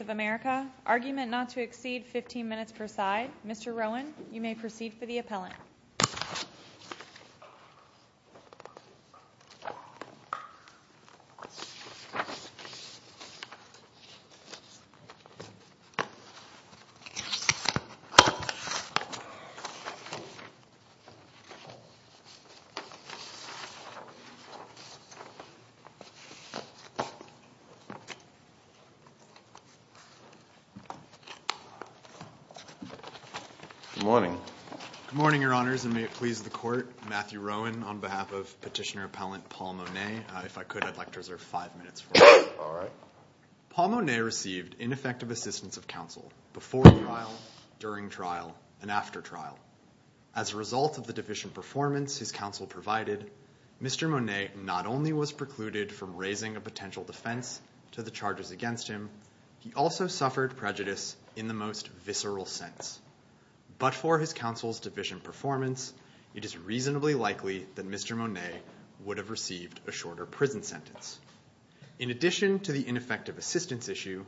of America, argument not to exceed 15 minutes per side. Mr. Rowan, you may proceed for the record. Good morning. Good morning, Your Honors, and may it please the Court, Matthew Rowan on behalf of Petitioner Appellant Paul Monea. If I could, I'd like to reserve five minutes for that. All right. Paul Monea received ineffective assistance of counsel before trial, during trial, and after trial. As a result of the deficient performance his counsel provided, Mr. Monea not only was precluded from raising a potential defense to the charges against him, he also suffered prejudice in the most visceral sense. But for his counsel's deficient performance, it is reasonably likely that Mr. Monea would have received a shorter prison sentence. In addition to the ineffective assistance issue,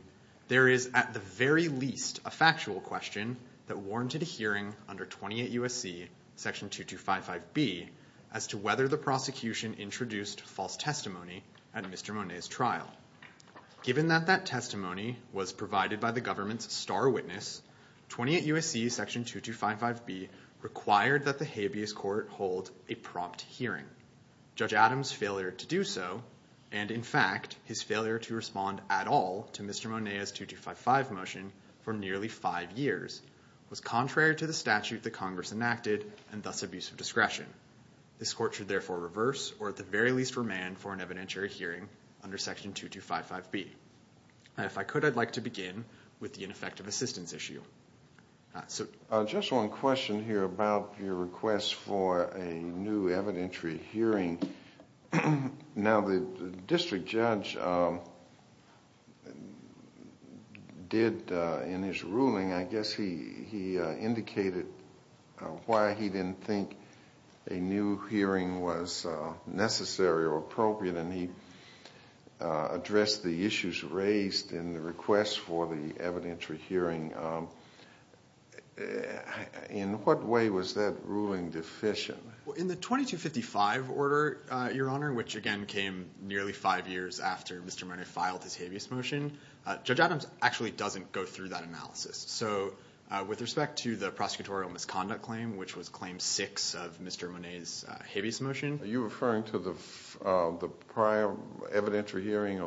there is at the very least a factual question that warranted a 2255B as to whether the prosecution introduced false testimony at Mr. Monea's trial. Given that that testimony was provided by the government's star witness, 28 U.S.C. section 2255B required that the habeas court hold a prompt hearing. Judge Adams' failure to do so, and in fact, his failure to respond at all to Mr. Monea's 2255 motion for nearly five years, was contrary to the statute enacted, and thus abuse of discretion. This court should therefore reverse, or at the very least remand, for an evidentiary hearing under section 2255B. If I could, I'd like to begin with the ineffective assistance issue. Just one question here about your request for a new evidentiary hearing. Now the district judge did, in his ruling, I guess he indicated why he didn't think a new hearing was necessary or appropriate, and he addressed the issues raised in the request for the 2255 order, which again came nearly five years after Mr. Monea filed his habeas motion. Judge Adams actually doesn't go through that analysis. So with respect to the prosecutorial misconduct claim, which was claim six of Mr. Monea's habeas motion. Are you referring to the prior evidentiary hearing?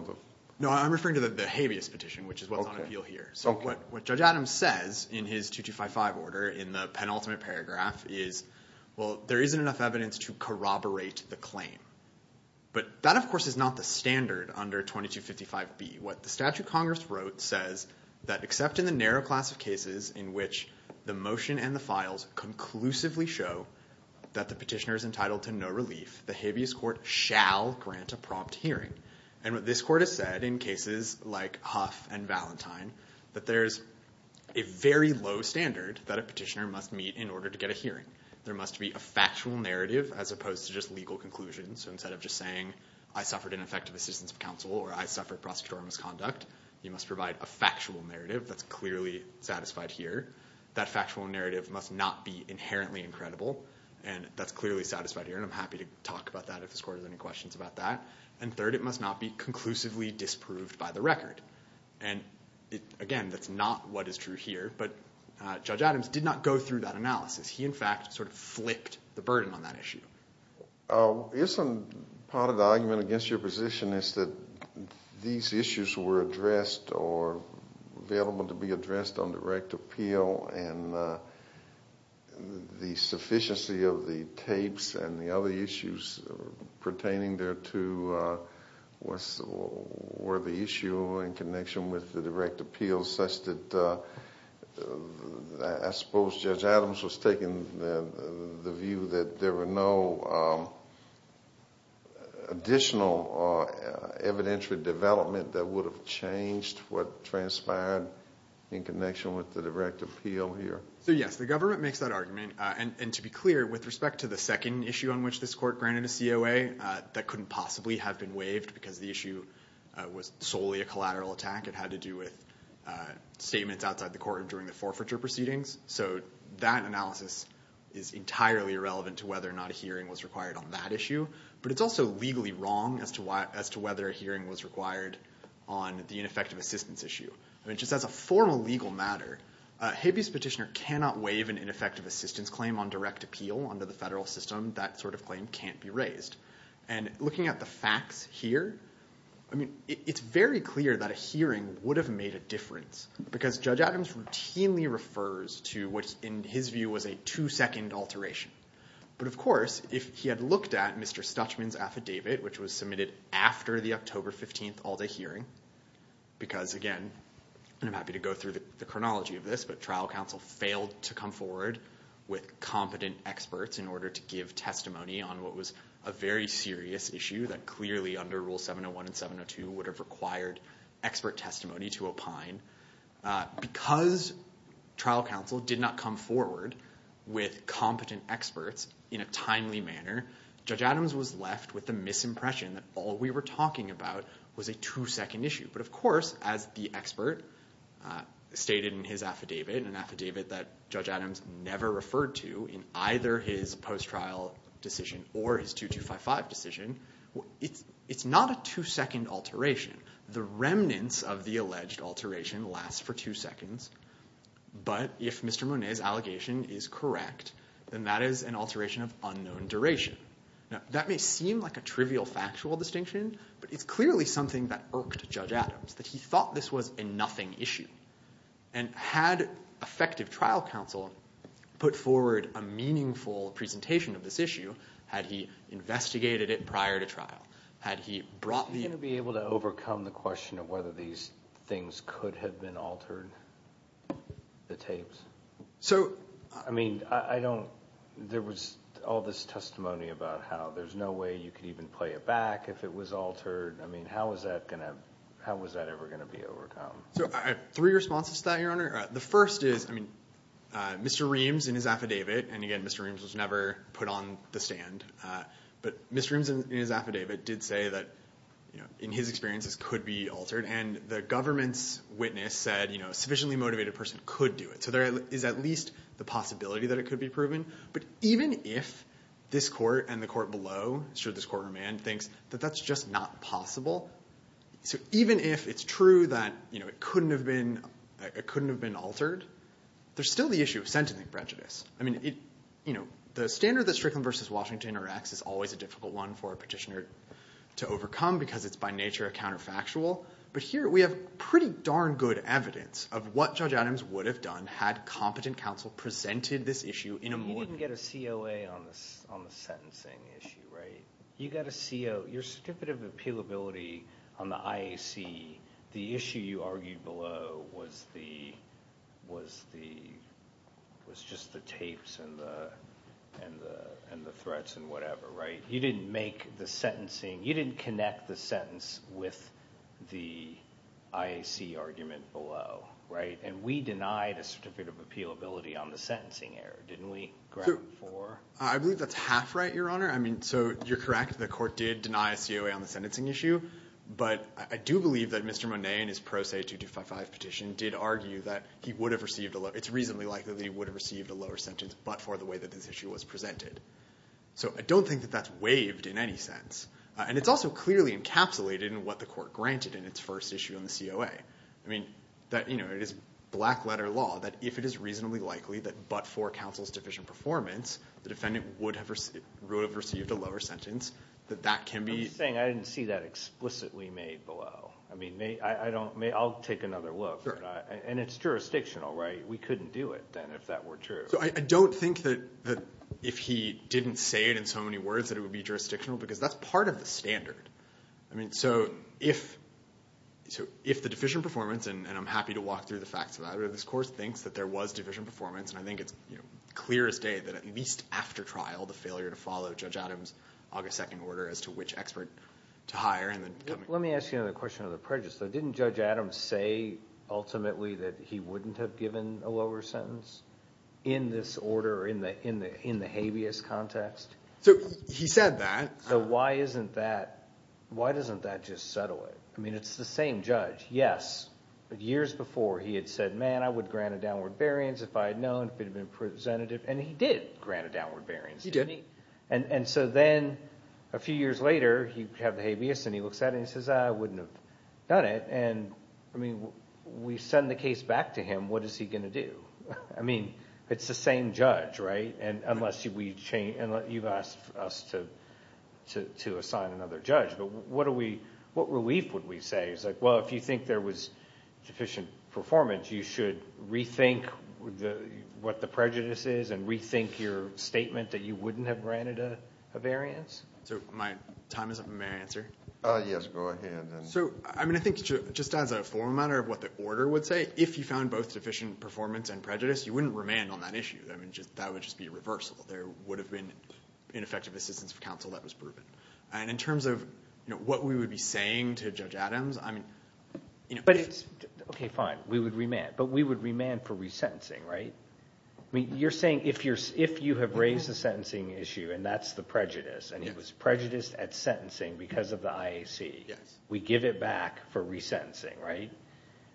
No, I'm referring to the habeas petition, which is what's on appeal here. So what Judge Adams says in his 2255 order, in the penultimate paragraph, is well there isn't enough evidence to meet the claim. But that, of course, is not the standard under 2255B. What the statute of Congress wrote says that except in the narrow class of cases in which the motion and the files conclusively show that the petitioner is entitled to no relief, the habeas court shall grant a prompt hearing. And what this court has said in cases like Huff and Valentine, that there's a very low standard that a petitioner must meet in order to get a hearing. There must be a factual narrative as opposed to just legal conclusions. So instead of just saying I suffered ineffective assistance of counsel or I suffered prosecutorial misconduct, you must provide a factual narrative that's clearly satisfied here. That factual narrative must not be inherently incredible. And that's clearly satisfied here. And I'm happy to talk about that if this court has any questions about that. And third, it must not be conclusively disproved by the record. And again, that's not what is true here. But Judge Adams did not go through that analysis. He, in fact, sort of flipped the burden on that issue. Isn't part of the argument against your position is that these issues were addressed or available to be addressed on direct appeal and the sufficiency of the tapes and the other issues pertaining there to were the issue in connection with the direct appeal such that I suppose Judge Adams was taking the view that there were no additional evidentiary development that would have changed what transpired in connection with the direct appeal here. So yes, the government makes that argument. And to be clear, with respect to the second issue on that couldn't possibly have been waived because the issue was solely a collateral attack. It had to do with statements outside the court during the forfeiture proceedings. So that analysis is entirely irrelevant to whether or not a hearing was required on that issue. But it's also legally wrong as to whether a hearing was required on the ineffective assistance issue. Just as a formal legal matter, a habeas petitioner cannot waive an ineffective assistance claim on direct appeal under the federal system. That sort of claim can't be raised. And looking at the facts here, I mean, it's very clear that a hearing would have made a difference because Judge Adams routinely refers to what in his view was a two-second alteration. But of course, if he had looked at Mr. Stuchman's affidavit, which was submitted after the October 15 all-day hearing, because again, and I'm happy to go through the chronology of this, but trial counsel failed to come forward with competent experts in order to give testimony on what was a very serious issue that clearly under Rule 701 and 702 would have required expert testimony to opine. Because trial counsel did not come forward with competent experts in a timely manner, Judge Adams was left with the misimpression that all we were talking about was a two-second issue. But of course, as the expert stated in his testimony, which he never referred to in either his post-trial decision or his 2255 decision, it's not a two-second alteration. The remnants of the alleged alteration lasts for two seconds. But if Mr. Monnet's allegation is correct, then that is an alteration of unknown duration. Now, that may seem like a trivial factual distinction, but it's clearly something that irked Judge Adams, that he thought this was a nothing issue. And had effective trial counsel put forward a meaningful presentation of this issue, had he investigated it prior to trial, had he brought the... Are you going to be able to overcome the question of whether these things could have been altered, the tapes? So, I mean, I don't, there was all this testimony about how there's no way you could even play it back if it was So, I have three responses to that, Your Honor. The first is, I mean, Mr. Reams in his affidavit, and again, Mr. Reams was never put on the stand, but Mr. Reams in his affidavit did say that, you know, in his experiences could be altered. And the government's witness said, you know, a sufficiently motivated person could do it. So there is at least the possibility that it could be proven. But even if this court and the government, you know, it couldn't have been altered, there's still the issue of sentencing prejudice. I mean, you know, the standard that Strickland v. Washington interacts is always a difficult one for a petitioner to overcome because it's by nature a counterfactual. But here we have pretty darn good evidence of what Judge Adams would have done had competent counsel presented this issue in a more... What you argued below was just the tapes and the threats and whatever, right? You didn't make the sentencing, you didn't connect the sentence with the IAC argument below, right? And we denied a Certificate of Appealability on the sentencing error, didn't we, ground four? I believe that's half right, Your Honor. I mean, so you're correct, the court did deny a COA on the sentencing issue. But I do believe that Mr. Monet in his Pro Se 2255 petition did argue that he would have received, it's reasonably likely that he would have received a lower sentence but for the way that this issue was presented. So I don't think that that's waived in any sense. And it's also clearly encapsulated in what the court granted in its first issue on the COA. I mean, that, you know, it is black letter law that if it is reasonably likely that but for counsel's deficient performance, the defendant would have received a lower sentence, that that can be... But you're saying I didn't see that explicitly made below. I mean, I don't, I'll take another look. And it's jurisdictional, right? We couldn't do it then if that were true. So I don't think that if he didn't say it in so many words that it would be jurisdictional because that's part of the standard. I mean, so if the deficient performance, and I'm happy to walk through the facts of that, but this court thinks that there was deficient performance. And I think it's, you know, clear as day that at least after trial, the failure to follow Judge Adams' August 2nd order as to which expert to hire and then... Let me ask you another question of the prejudice. So didn't Judge Adams say ultimately that he wouldn't have given a lower sentence in this order, in the habeas context? So he said that. So why isn't that, why doesn't that just settle it? I mean, it's the same judge. Yes, years before he had said, man, I would grant a downward variance if I had known, if it had been presented. And he did grant a downward variance. He did. And so then a few years later, you have the habeas and he looks at it and he says, I wouldn't have done it. And I mean, we send the case back to him, what is he going to do? I mean, it's the same judge, right? And unless you've asked us to assign another judge, but what are we, what relief would we say? It's like, well, if you think there was deficient performance, you should rethink what the prejudice is and rethink your statement that you wouldn't have granted a variance? So my time is up. May I answer? Yes, go ahead. So, I mean, I think just as a form matter of what the order would say, if you found both deficient performance and prejudice, you wouldn't remand on that issue. I mean, just that would just be a reversal. There would have been ineffective assistance of counsel that was proven. And in terms of what we would be saying to Judge Adams, I mean, But it's OK, fine, we would remand, but we would remand for resentencing, right? I mean, you're saying if you have raised the sentencing issue and that's the prejudice and it was prejudice at sentencing because of the IAC, we give it back for resentencing, right?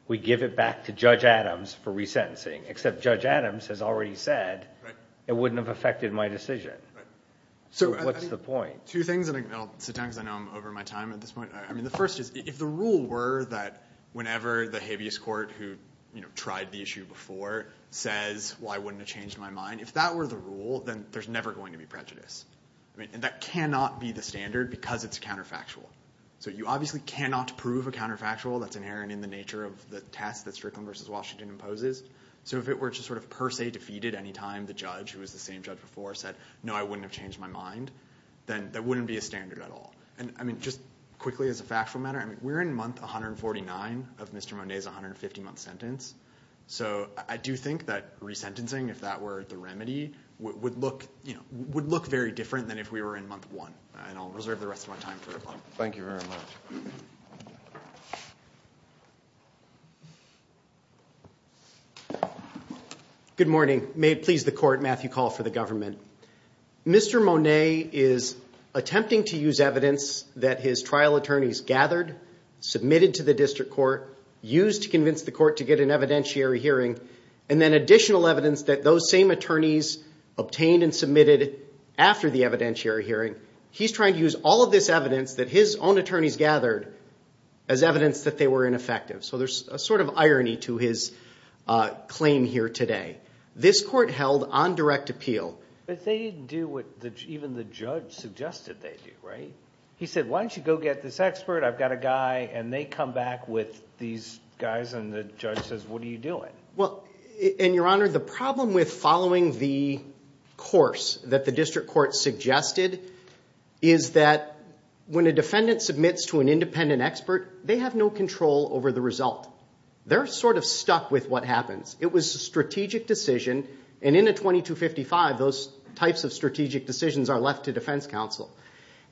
We give it back to Judge Adams for resentencing, except Judge Adams has already said it wouldn't have affected my decision. So what's the point? Two things, and I'll sit down because I know I'm over my time at this point. I mean, the first is if the rule were that whenever the habeas court who tried the issue before says, why wouldn't it change my mind? If that were the rule, then there's never going to be prejudice. I mean, that cannot be the standard because it's counterfactual. So you obviously cannot prove a counterfactual that's inherent in the nature of the test that Strickland v. Washington imposes. So if it were just sort of per se defeated any time, the judge who was the same judge before said, no, I wouldn't have changed my mind, then that wouldn't be a standard at all. And I mean, just quickly as a factual matter, we're in month 149 of Mr. Monday's 150-month sentence. So I do think that resentencing, if that were the remedy, would look very different than if we were in month one. And I'll reserve the rest of my time for it. Thank you very much. Good morning. May it please the court, Matthew Call for the government. Mr. Monet is attempting to use evidence that his trial attorneys gathered, submitted to the district court, used to convince the court to get an evidentiary hearing, and then additional evidence that those same attorneys obtained and submitted after the evidentiary hearing. He's trying to use all of this evidence that his own attorneys gathered as evidence that they were ineffective. So there's a sort of irony to his claim here today. This court held on direct appeal. But they didn't do what even the judge suggested they do, right? He said, why don't you go get this expert? I've got a guy. And they come back with these guys. And the judge says, what are you doing? Well, and your honor, the problem with following the course that the district court suggested is that when a defendant submits to an independent expert, they have no control over the result. They're sort of stuck with what happens. It was a strategic decision. And in a 2255, those types of strategic decisions are left to defense counsel.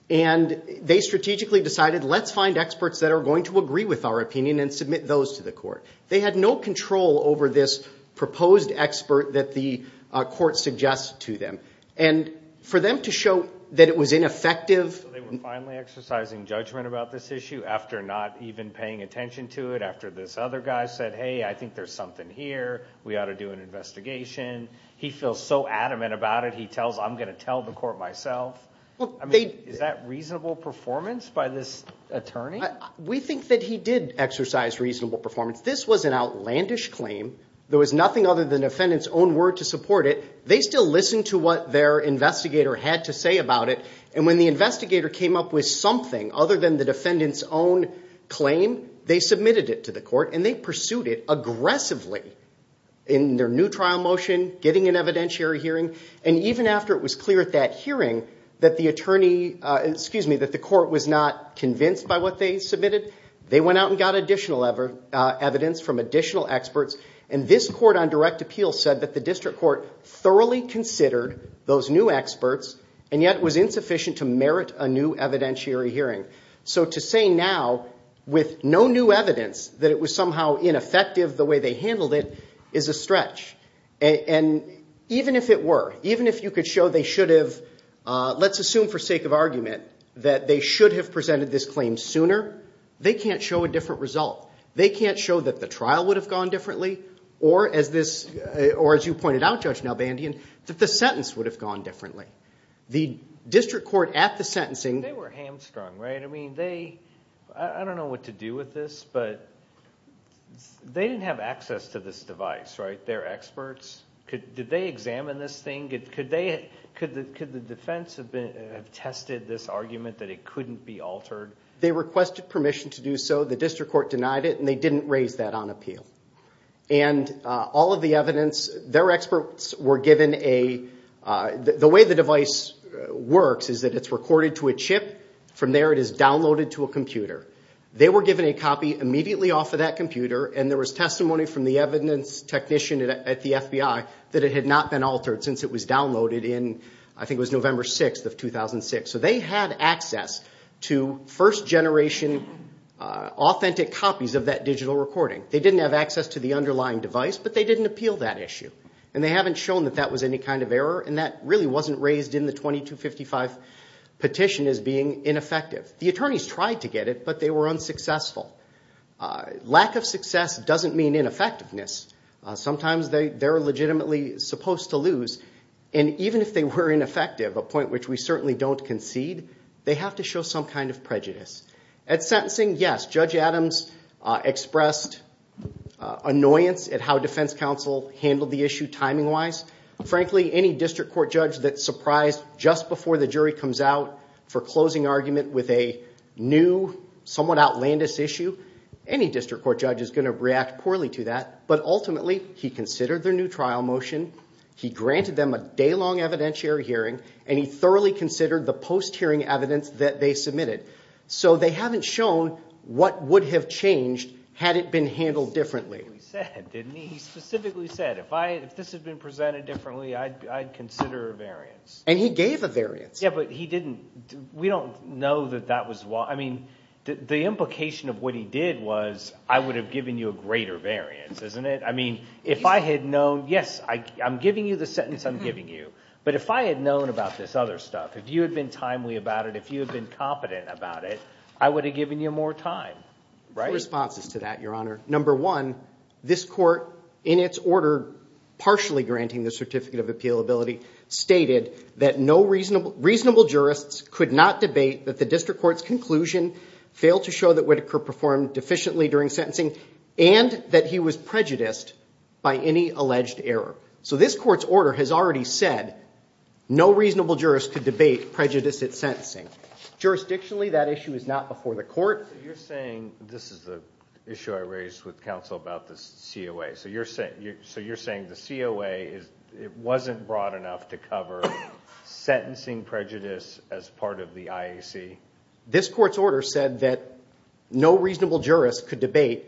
And they strategically decided, let's find experts that are going to agree with our opinion and submit those to the court. They had no control over this proposed expert that the court suggested to them. And for them to show that it was ineffective. So they were finally exercising judgment about this issue after not even paying attention to it, after this other guy said, hey, I think there's something here. We ought to do an investigation. He feels so adamant about it. He tells, I'm going to tell the court myself. Is that reasonable performance by this attorney? We think that he did exercise reasonable performance. This was an outlandish claim. There was nothing other than the defendant's own word to support it. They still listened to what their investigator had to say about it. And when the investigator came up with something other than the defendant's own claim, they submitted it to the court. And they pursued it aggressively in their new trial motion, getting an evidentiary hearing. And even after it was clear at that hearing that the court was not convinced by what they submitted, they went out and got additional evidence from additional experts. And this court on direct appeal said that the district court thoroughly considered those new experts and yet was insufficient to merit a new evidentiary hearing. So to say now with no new evidence that it was somehow ineffective the way they handled it is a stretch. And even if it were, even if you could show they should have, let's assume for sake of argument, that they should have presented this claim sooner, they can't show a different result. They can't show that the trial would have gone differently or as you pointed out, Judge Nalbandian, that the sentence would have gone differently. They were hamstrung, right? I don't know what to do with this, but they didn't have access to this device, right? They're experts. Did they examine this thing? Could the defense have tested this argument that it couldn't be altered? They requested permission to do so. The district court denied it and they didn't raise that on appeal. And all of the evidence, their experts were given a, the way the device works is that it's recorded to a chip. From there it is downloaded to a computer. They were given a copy immediately off of that computer and there was testimony from the evidence technician at the FBI that it had not been altered since it was downloaded in, I think it was November 6th of 2006. So they had access to first generation authentic copies of that digital recording. They didn't have access to the underlying device, but they didn't appeal that issue. And they haven't shown that that was any kind of error and that really wasn't raised in the 2255 petition as being ineffective. The attorneys tried to get it, but they were unsuccessful. Lack of success doesn't mean ineffectiveness. Sometimes they're legitimately supposed to lose. And even if they were ineffective, a point which we certainly don't concede, they have to show some kind of prejudice. At sentencing, yes, Judge Adams expressed annoyance at how defense counsel handled the issue timing wise. Frankly, any district court judge that's surprised just before the jury comes out for closing argument with a new, somewhat outlandish issue, any district court judge is going to react poorly to that. But ultimately, he considered their new trial motion, he granted them a day-long evidentiary hearing, and he thoroughly considered the post-hearing evidence that they submitted. So they haven't shown what would have changed had it been handled differently. He specifically said, if this had been presented differently, I'd consider a variance. And he gave a variance. Yeah, but he didn't, we don't know that that was, I mean, the implication of what he did was, I would have given you a greater variance, isn't it? I mean, if I had known, yes, I'm giving you the sentence I'm giving you, but if I had known about this other stuff, if you had been timely about it, if you had been competent about it, I would have given you more time. I have two responses to that, your honor. Number one, this court, in its order partially granting the certificate of appealability, stated that no reasonable jurists could not debate that the district court's conclusion failed to show that Whitaker performed deficiently during sentencing and that he was prejudiced by any alleged error. So this court's order has already said no reasonable jurists could debate prejudice at sentencing. Jurisdictionally, that issue is not before the court. You're saying, this is the issue I raised with counsel about the COA. So you're saying the COA, it wasn't broad enough to cover sentencing prejudice as part of the IAC? This court's order said that no reasonable jurists could debate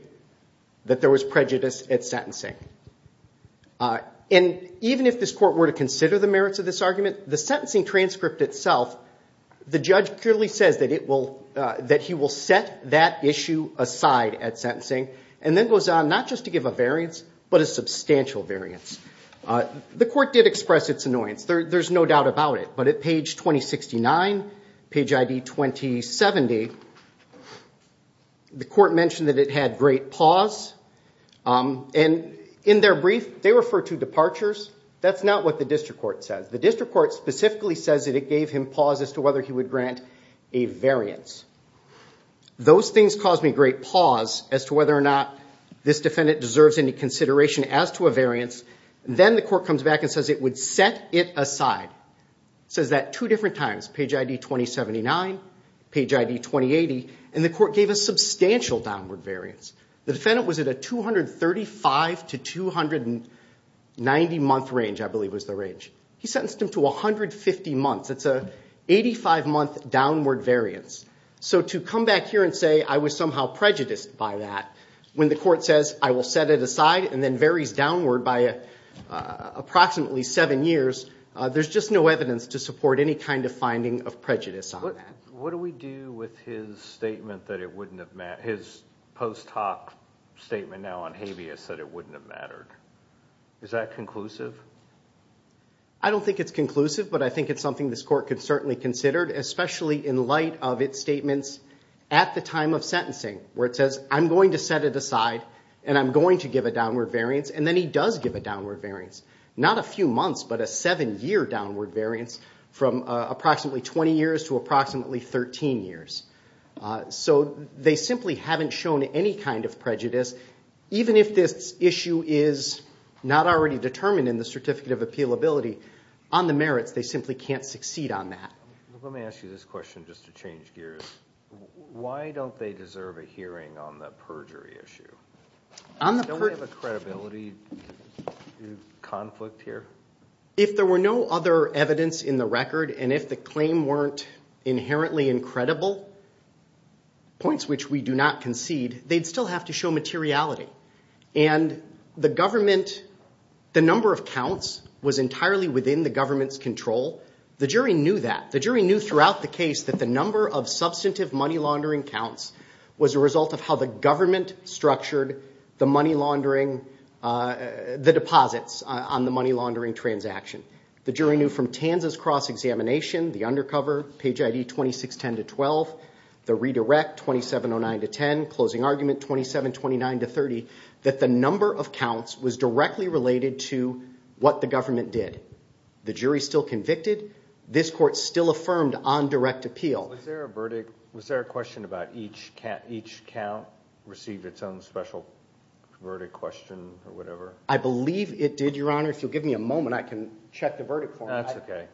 that there was prejudice at sentencing. And even if this court were to consider the merits of this argument, the sentencing transcript itself, the judge clearly says that he will set that issue aside at sentencing and then goes on, not just to give a variance, but a substantial variance. The court did express its annoyance. There's no doubt about it. But at page 2069, page ID 2070, the court mentioned that it had great pause. And in their brief, they refer to departures. That's not what the district court says. The district court specifically says that it gave him pause as to whether he would grant a variance. Those things caused me great pause as to whether or not this defendant deserves any consideration as to a variance. Then the court comes back and says it would set it aside. It says that two different times, page ID 2079, page ID 2080. And the court gave a substantial downward variance. The defendant was at a 235 to 290-month range, I believe was the range. He sentenced him to 150 months. It's an 85-month downward variance. So to come back here and say I was somehow prejudiced by that, when the court says I will set it aside and then varies downward by approximately seven years, there's just no evidence to support any kind of finding of prejudice on that. What do we do with his statement that it wouldn't have mattered? His post hoc statement now on habeas said it wouldn't have mattered. Is that conclusive? I don't think it's conclusive, but I think it's something this court could certainly consider, especially in light of its statements at the time of sentencing where it says I'm going to set it aside and I'm going to give a downward variance. And then he does give a downward variance. Not a few months, but a seven-year downward variance from approximately 20 years to approximately 13 years. So they simply haven't shown any kind of prejudice. Even if this issue is not already determined in the Certificate of Appealability, on the merits, they simply can't succeed on that. Let me ask you this question just to change gears. Why don't they deserve a hearing on the perjury issue? Don't we have a credibility conflict here? If there were no other evidence in the record and if the claim weren't inherently incredible, points which we do not concede, they'd still have to show materiality. And the government, the number of counts was entirely within the government's control. The jury knew that. The jury knew from Tanza's cross-examination, the undercover, page ID 2610-12, the redirect 2709-10, closing argument 2729-30, that the number of counts was directly related to what the government did. The jury's still convicted. This court still affirmed on direct appeal. Was there a question about each count received its own special verdict question or whatever? I believe it did, Your Honor. If you'll give me a moment, I can check the verdict for you. That's okay.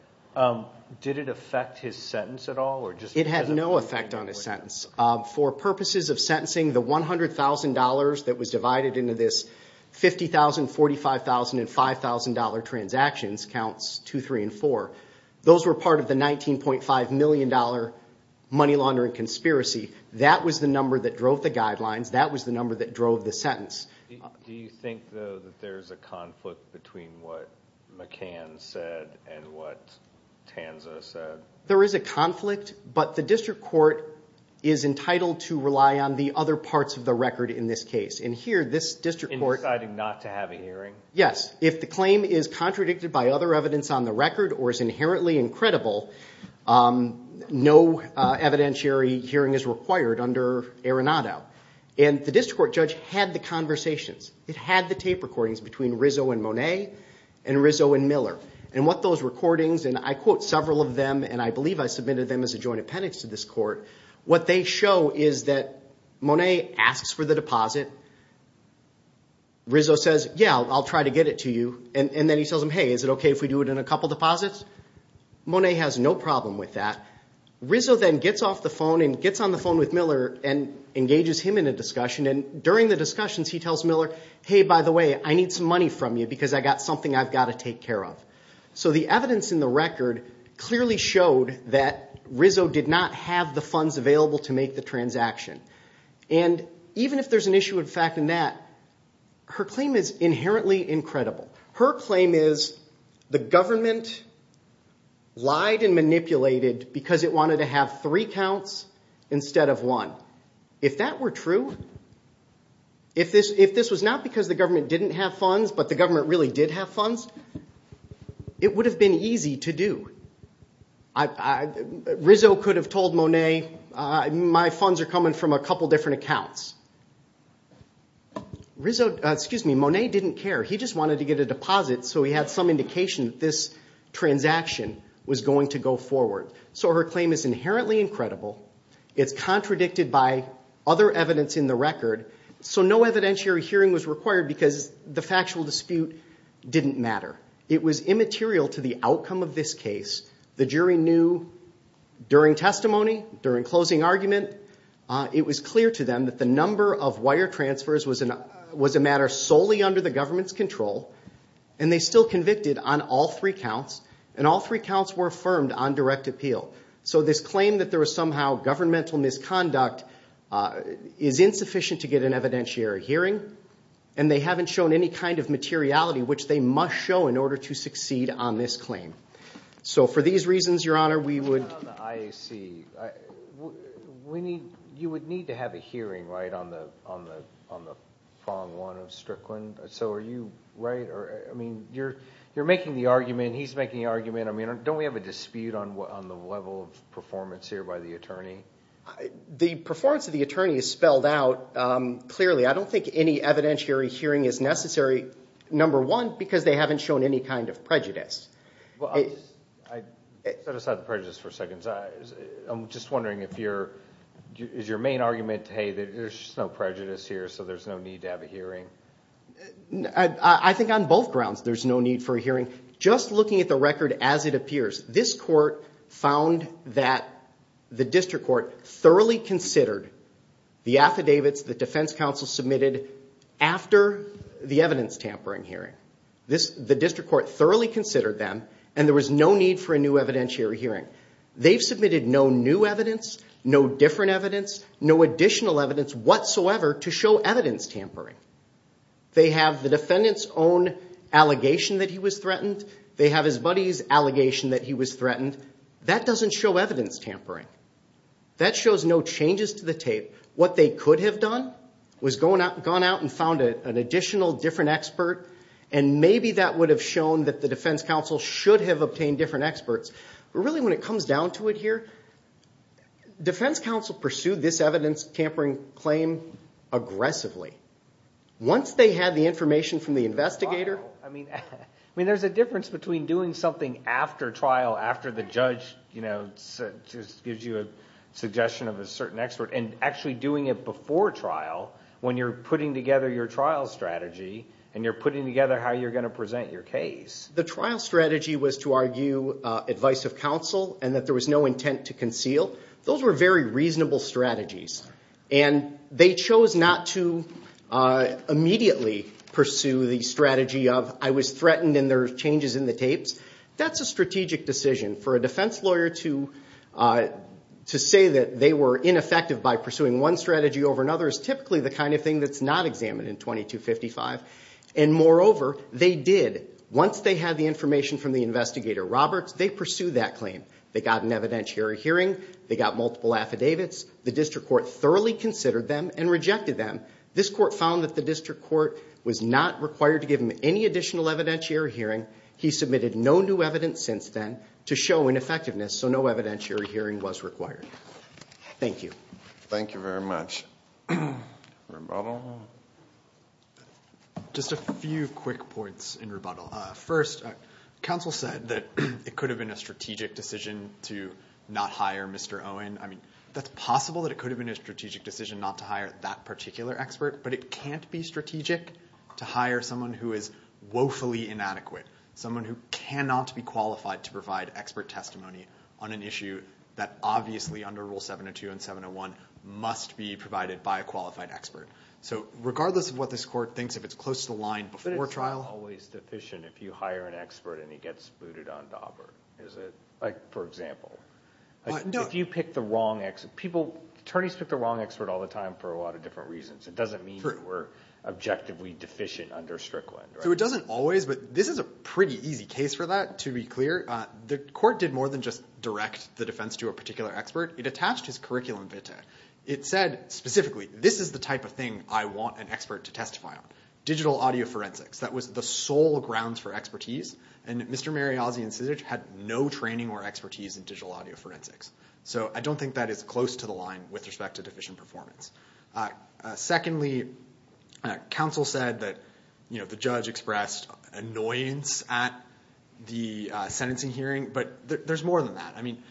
Did it affect his sentence at all? It had no effect on his sentence. For purposes of sentencing, the $100,000 that was divided into this 50,000, 45,000, and $5,000 transactions, counts 2, 3, and 4, those were part of the $19.5 million money laundering conspiracy. That was the number that drove the guidelines. That was the number that drove the sentence. Do you think, though, that there's a conflict between what McCann said and what Tanza said? There is a conflict, but the district court is entitled to rely on the other parts of the record in this case. In deciding not to have a hearing? Yes. If the claim is contradicted by other evidence on the record or is inherently incredible, no evidentiary hearing is required under Arenado. The district court judge had the conversations. It had the tape recordings between Rizzo and Monet and Rizzo and Miller. What those recordings, and I quote several of them, and I believe I submitted them as a joint appendix to this court, what they show is that Monet asks for the deposit. Rizzo says, yeah, I'll try to get it to you. Then he says, hey, is it okay if we do it in a couple deposits? Monet has no problem with that. Rizzo then gets off the phone and gets on the phone with Miller and engages him in a discussion. During the discussions, he tells Miller, hey, by the way, I need some money from you because I've got something I've got to take care of. So the evidence in the record clearly showed that Rizzo did not have the funds available to make the transaction. Even if there's an issue of fact in that, her claim is inherently incredible. Her claim is the government lied and manipulated because it wanted to have three counts instead of one. If that were true, if this was not because the government didn't have funds but the government really did have funds, it would have been easy to do. Rizzo could have told Monet, my funds are coming from a couple different accounts. Monet didn't care. He just wanted to get a deposit so he had some indication that this transaction was going to go forward. So her claim is inherently incredible. It's contradicted by other evidence in the record. So no evidentiary hearing was required because the factual dispute didn't matter. It was immaterial to the outcome of this case. The jury knew during testimony, during closing argument, it was clear to them that the number of wire transfers was a matter solely under the government's control and they still convicted on all three counts and all three counts were affirmed on direct appeal. So this claim that there was somehow governmental misconduct is insufficient to get an evidentiary hearing and they haven't shown any kind of materiality which they must show in order to succeed on this claim. So for these reasons, Your Honor, we would... On the IAC, you would need to have a hearing on the Fong one of Strickland. So are you right? You're making the argument, he's making the argument. Don't we have a dispute on the level of performance here by the attorney? The performance of the attorney is spelled out clearly. I don't think any evidentiary hearing is necessary, number one, because they haven't shown any kind of prejudice. Set aside the prejudice for a second. I'm just wondering if your... Is your main argument, hey, there's no prejudice here so there's no need to have a hearing? I think on both grounds there's no need for a hearing. Just looking at the record as it appears, this court found that the district court thoroughly considered the affidavits the defense counsel submitted after the evidence tampering hearing. The district court thoroughly considered them and there was no need for a new evidentiary hearing. They've submitted no new evidence, no different evidence, no additional evidence whatsoever to show evidence tampering. They have the defendant's own allegation that he was threatened. They have his buddy's allegation that he was threatened. That doesn't show evidence tampering. That shows no changes to the tape. What they could have done was gone out and found an additional different expert and maybe that would have shown that the defense counsel should have obtained different experts. But really when it comes down to it here, defense counsel pursued this evidence tampering claim aggressively. Once they had the information from the investigator... There's a difference between doing something after trial, after the judge gives you a suggestion of a certain expert, and actually doing it before trial when you're putting together your trial strategy and you're putting together how you're going to present your case. The trial strategy was to argue advice of counsel and that there was no intent to conceal. Those were very reasonable strategies. They chose not to immediately pursue the strategy of, I was threatened and there were changes in the tapes. That's a strategic decision. For a defense lawyer to say that they were ineffective by pursuing one strategy over another is typically the kind of thing that's not examined in 2255. Moreover, they did, once they had the information from the investigator Roberts, they pursued that claim. They got an evidentiary hearing. They got multiple affidavits. The district court thoroughly considered them and rejected them. This court found that the district court was not required to give them any additional evidentiary hearing. He submitted no new evidence since then to show ineffectiveness, so no evidentiary hearing was required. Thank you. Thank you very much. Rebuttal? Just a few quick points in rebuttal. First, counsel said that it could have been a strategic decision to not hire Mr. Owen. I mean, that's possible that it could have been a strategic decision not to hire that particular expert, but it can't be strategic to hire someone who is woefully inadequate, someone who cannot be qualified to provide expert testimony on an issue that obviously, under Rule 702 and 701, must be provided by a qualified expert. So regardless of what this court thinks, if it's close to the line before trial. But it's not always sufficient if you hire an expert and he gets booted on dauber, is it? Like, for example. If you pick the wrong expert, people, attorneys pick the wrong expert all the time for a lot of different reasons. It doesn't mean you were objectively deficient under Strickland. So it doesn't always, but this is a pretty easy case for that, to be clear. The court did more than just direct the defense to a particular expert. It attached his curriculum vitae. It said specifically, this is the type of thing I want an expert to testify on. Digital audio forensics. That was the sole grounds for expertise, and Mr. Mariazzi and Cizic had no training or expertise in digital audio forensics. So I don't think that is close to the line with respect to deficient performance. Secondly, counsel said that the judge expressed annoyance at the sentencing hearing, but there's more than that. I mean,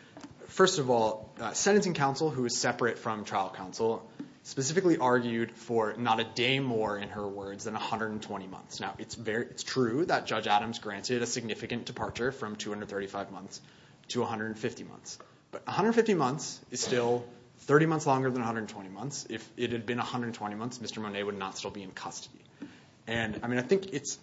first of all, sentencing counsel, who is separate from trial counsel, specifically argued for not a day more, in her words, than 120 months. Now, it's true that Judge Adams granted a significant departure from 235 months to 150 months. But 150 months is still 30 months longer than 120 months. If it had been 120 months, Mr. Monet would not still be in custody. And, I mean, I think it's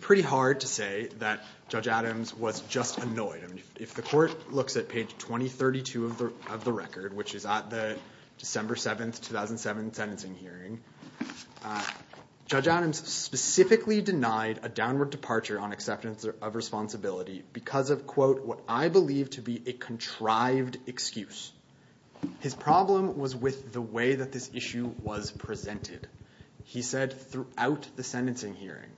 pretty hard to say that Judge Adams was just annoyed. I mean, if the court looks at page 2032 of the record, which is at the December 7, 2007, sentencing hearing, Judge Adams specifically denied a downward departure on acceptance of responsibility because of, quote, what I believe to be a contrived excuse. His problem was with the way that this issue was presented. He said throughout the sentencing hearing,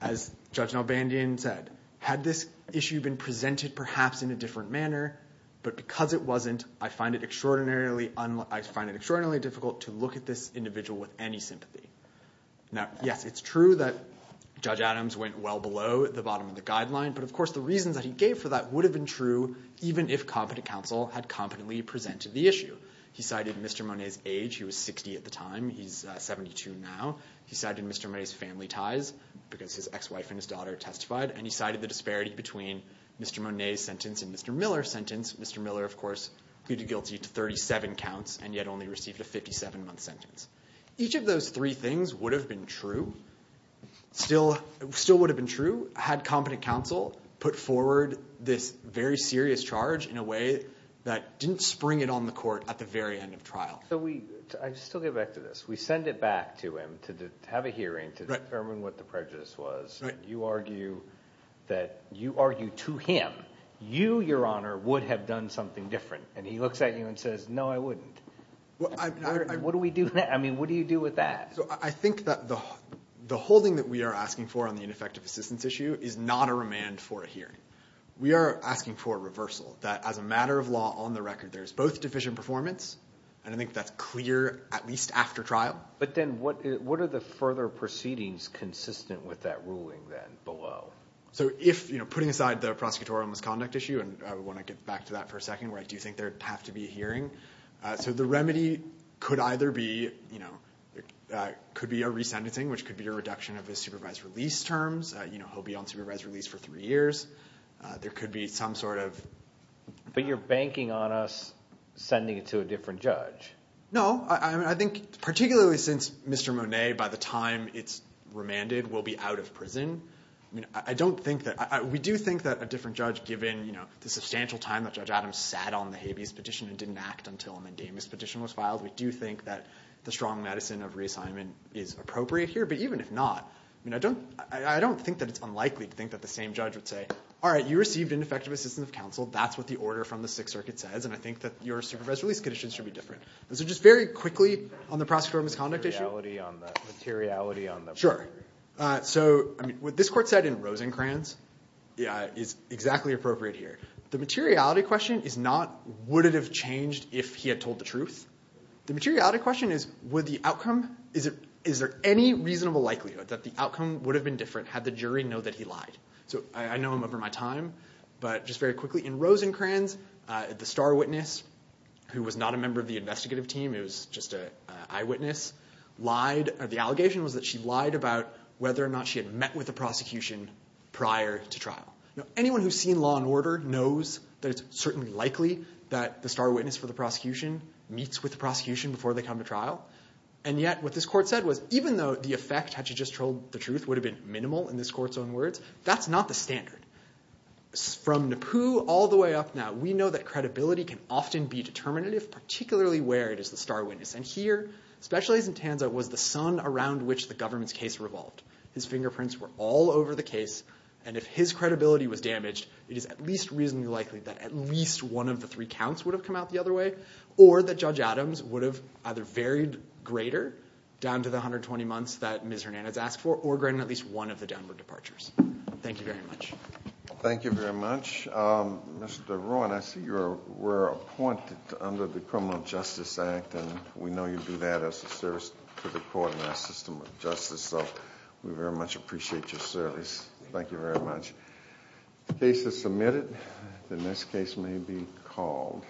as Judge Nalbandian said, had this issue been presented perhaps in a different manner, but because it wasn't, I find it extraordinarily difficult to look at this individual with any sympathy. Now, yes, it's true that Judge Adams went well below the bottom of the guideline. But, of course, the reasons that he gave for that would have been true even if competent counsel had competently presented the issue. He cited Mr. Monet's age. He was 60 at the time. He's 72 now. He cited Mr. Monet's family ties because his ex-wife and his daughter testified. And he cited the disparity between Mr. Monet's sentence and Mr. Miller's sentence. Mr. Miller, of course, pleaded guilty to 37 counts and yet only received a 57-month sentence. Each of those three things would have been true, still would have been true, had competent counsel put forward this very serious charge in a way that didn't spring it on the court at the very end of trial. I still get back to this. We send it back to him to have a hearing to determine what the prejudice was. You argue to him, you, Your Honor, would have done something different. And he looks at you and says, no, I wouldn't. What do we do with that? I think that the holding that we are asking for on the ineffective assistance issue is not a remand for a hearing. We are asking for a reversal, that as a matter of law, on the record, there's both deficient performance, and I think that's clear at least after trial. But then what are the further proceedings consistent with that ruling then below? So if, you know, putting aside the prosecutorial misconduct issue, and I want to get back to that for a second, where I do think there would have to be a hearing. So the remedy could either be, you know, could be a re-sentencing, which could be a reduction of his supervised release terms. You know, he'll be on supervised release for three years. There could be some sort of... But you're banking on us sending it to a different judge. No. I mean, I think particularly since Mr. Monet, by the time it's remanded, will be out of prison, I mean, I don't think that... We do think that a different judge, given, you know, the substantial time that Judge Adams sat on the Habeas Petition and didn't act until a Mendamis Petition was filed, we do think that the strong medicine of reassignment is appropriate here. But even if not, I mean, I don't think that it's unlikely to think that the same judge would say, all right, you received ineffective assistance of counsel. That's what the order from the Sixth Circuit says, and I think that your supervised release conditions should be different. So just very quickly on the prosecutorial misconduct issue. Materiality on the... Sure. So, I mean, what this court said in Rosencrantz is exactly appropriate here. The materiality question is not would it have changed if he had told the truth. The materiality question is would the outcome... Is there any reasonable likelihood that the outcome would have been different had the jury know that he lied? So I know I'm over my time, but just very quickly in Rosencrantz, the star witness, who was not a member of the investigative team, it was just an eyewitness, lied. The allegation was that she lied about whether or not she had met with the prosecution prior to trial. Anyone who's seen Law and Order knows that it's certainly likely that the star witness for the prosecution meets with the prosecution before they come to trial. And yet what this court said was even though the effect had she just told the truth would have been minimal in this court's own words, that's not the standard. From Nippu all the way up now, we know that credibility can often be determinative, particularly where it is the star witness. And here, Special Agent Tanza was the sun around which the government's case revolved. His fingerprints were all over the case. And if his credibility was damaged, it is at least reasonably likely that at least one of the three counts would have come out the other way or that Judge Adams would have either varied greater down to the 120 months that Ms. Hernandez asked for or granted at least one of the downward departures. Thank you very much. Thank you very much. Mr. Ruan, I see you were appointed under the Criminal Justice Act, and we know you do that as a service to the court and our system of justice, so we very much appreciate your service. Thank you very much. The case is submitted. The next case may be called.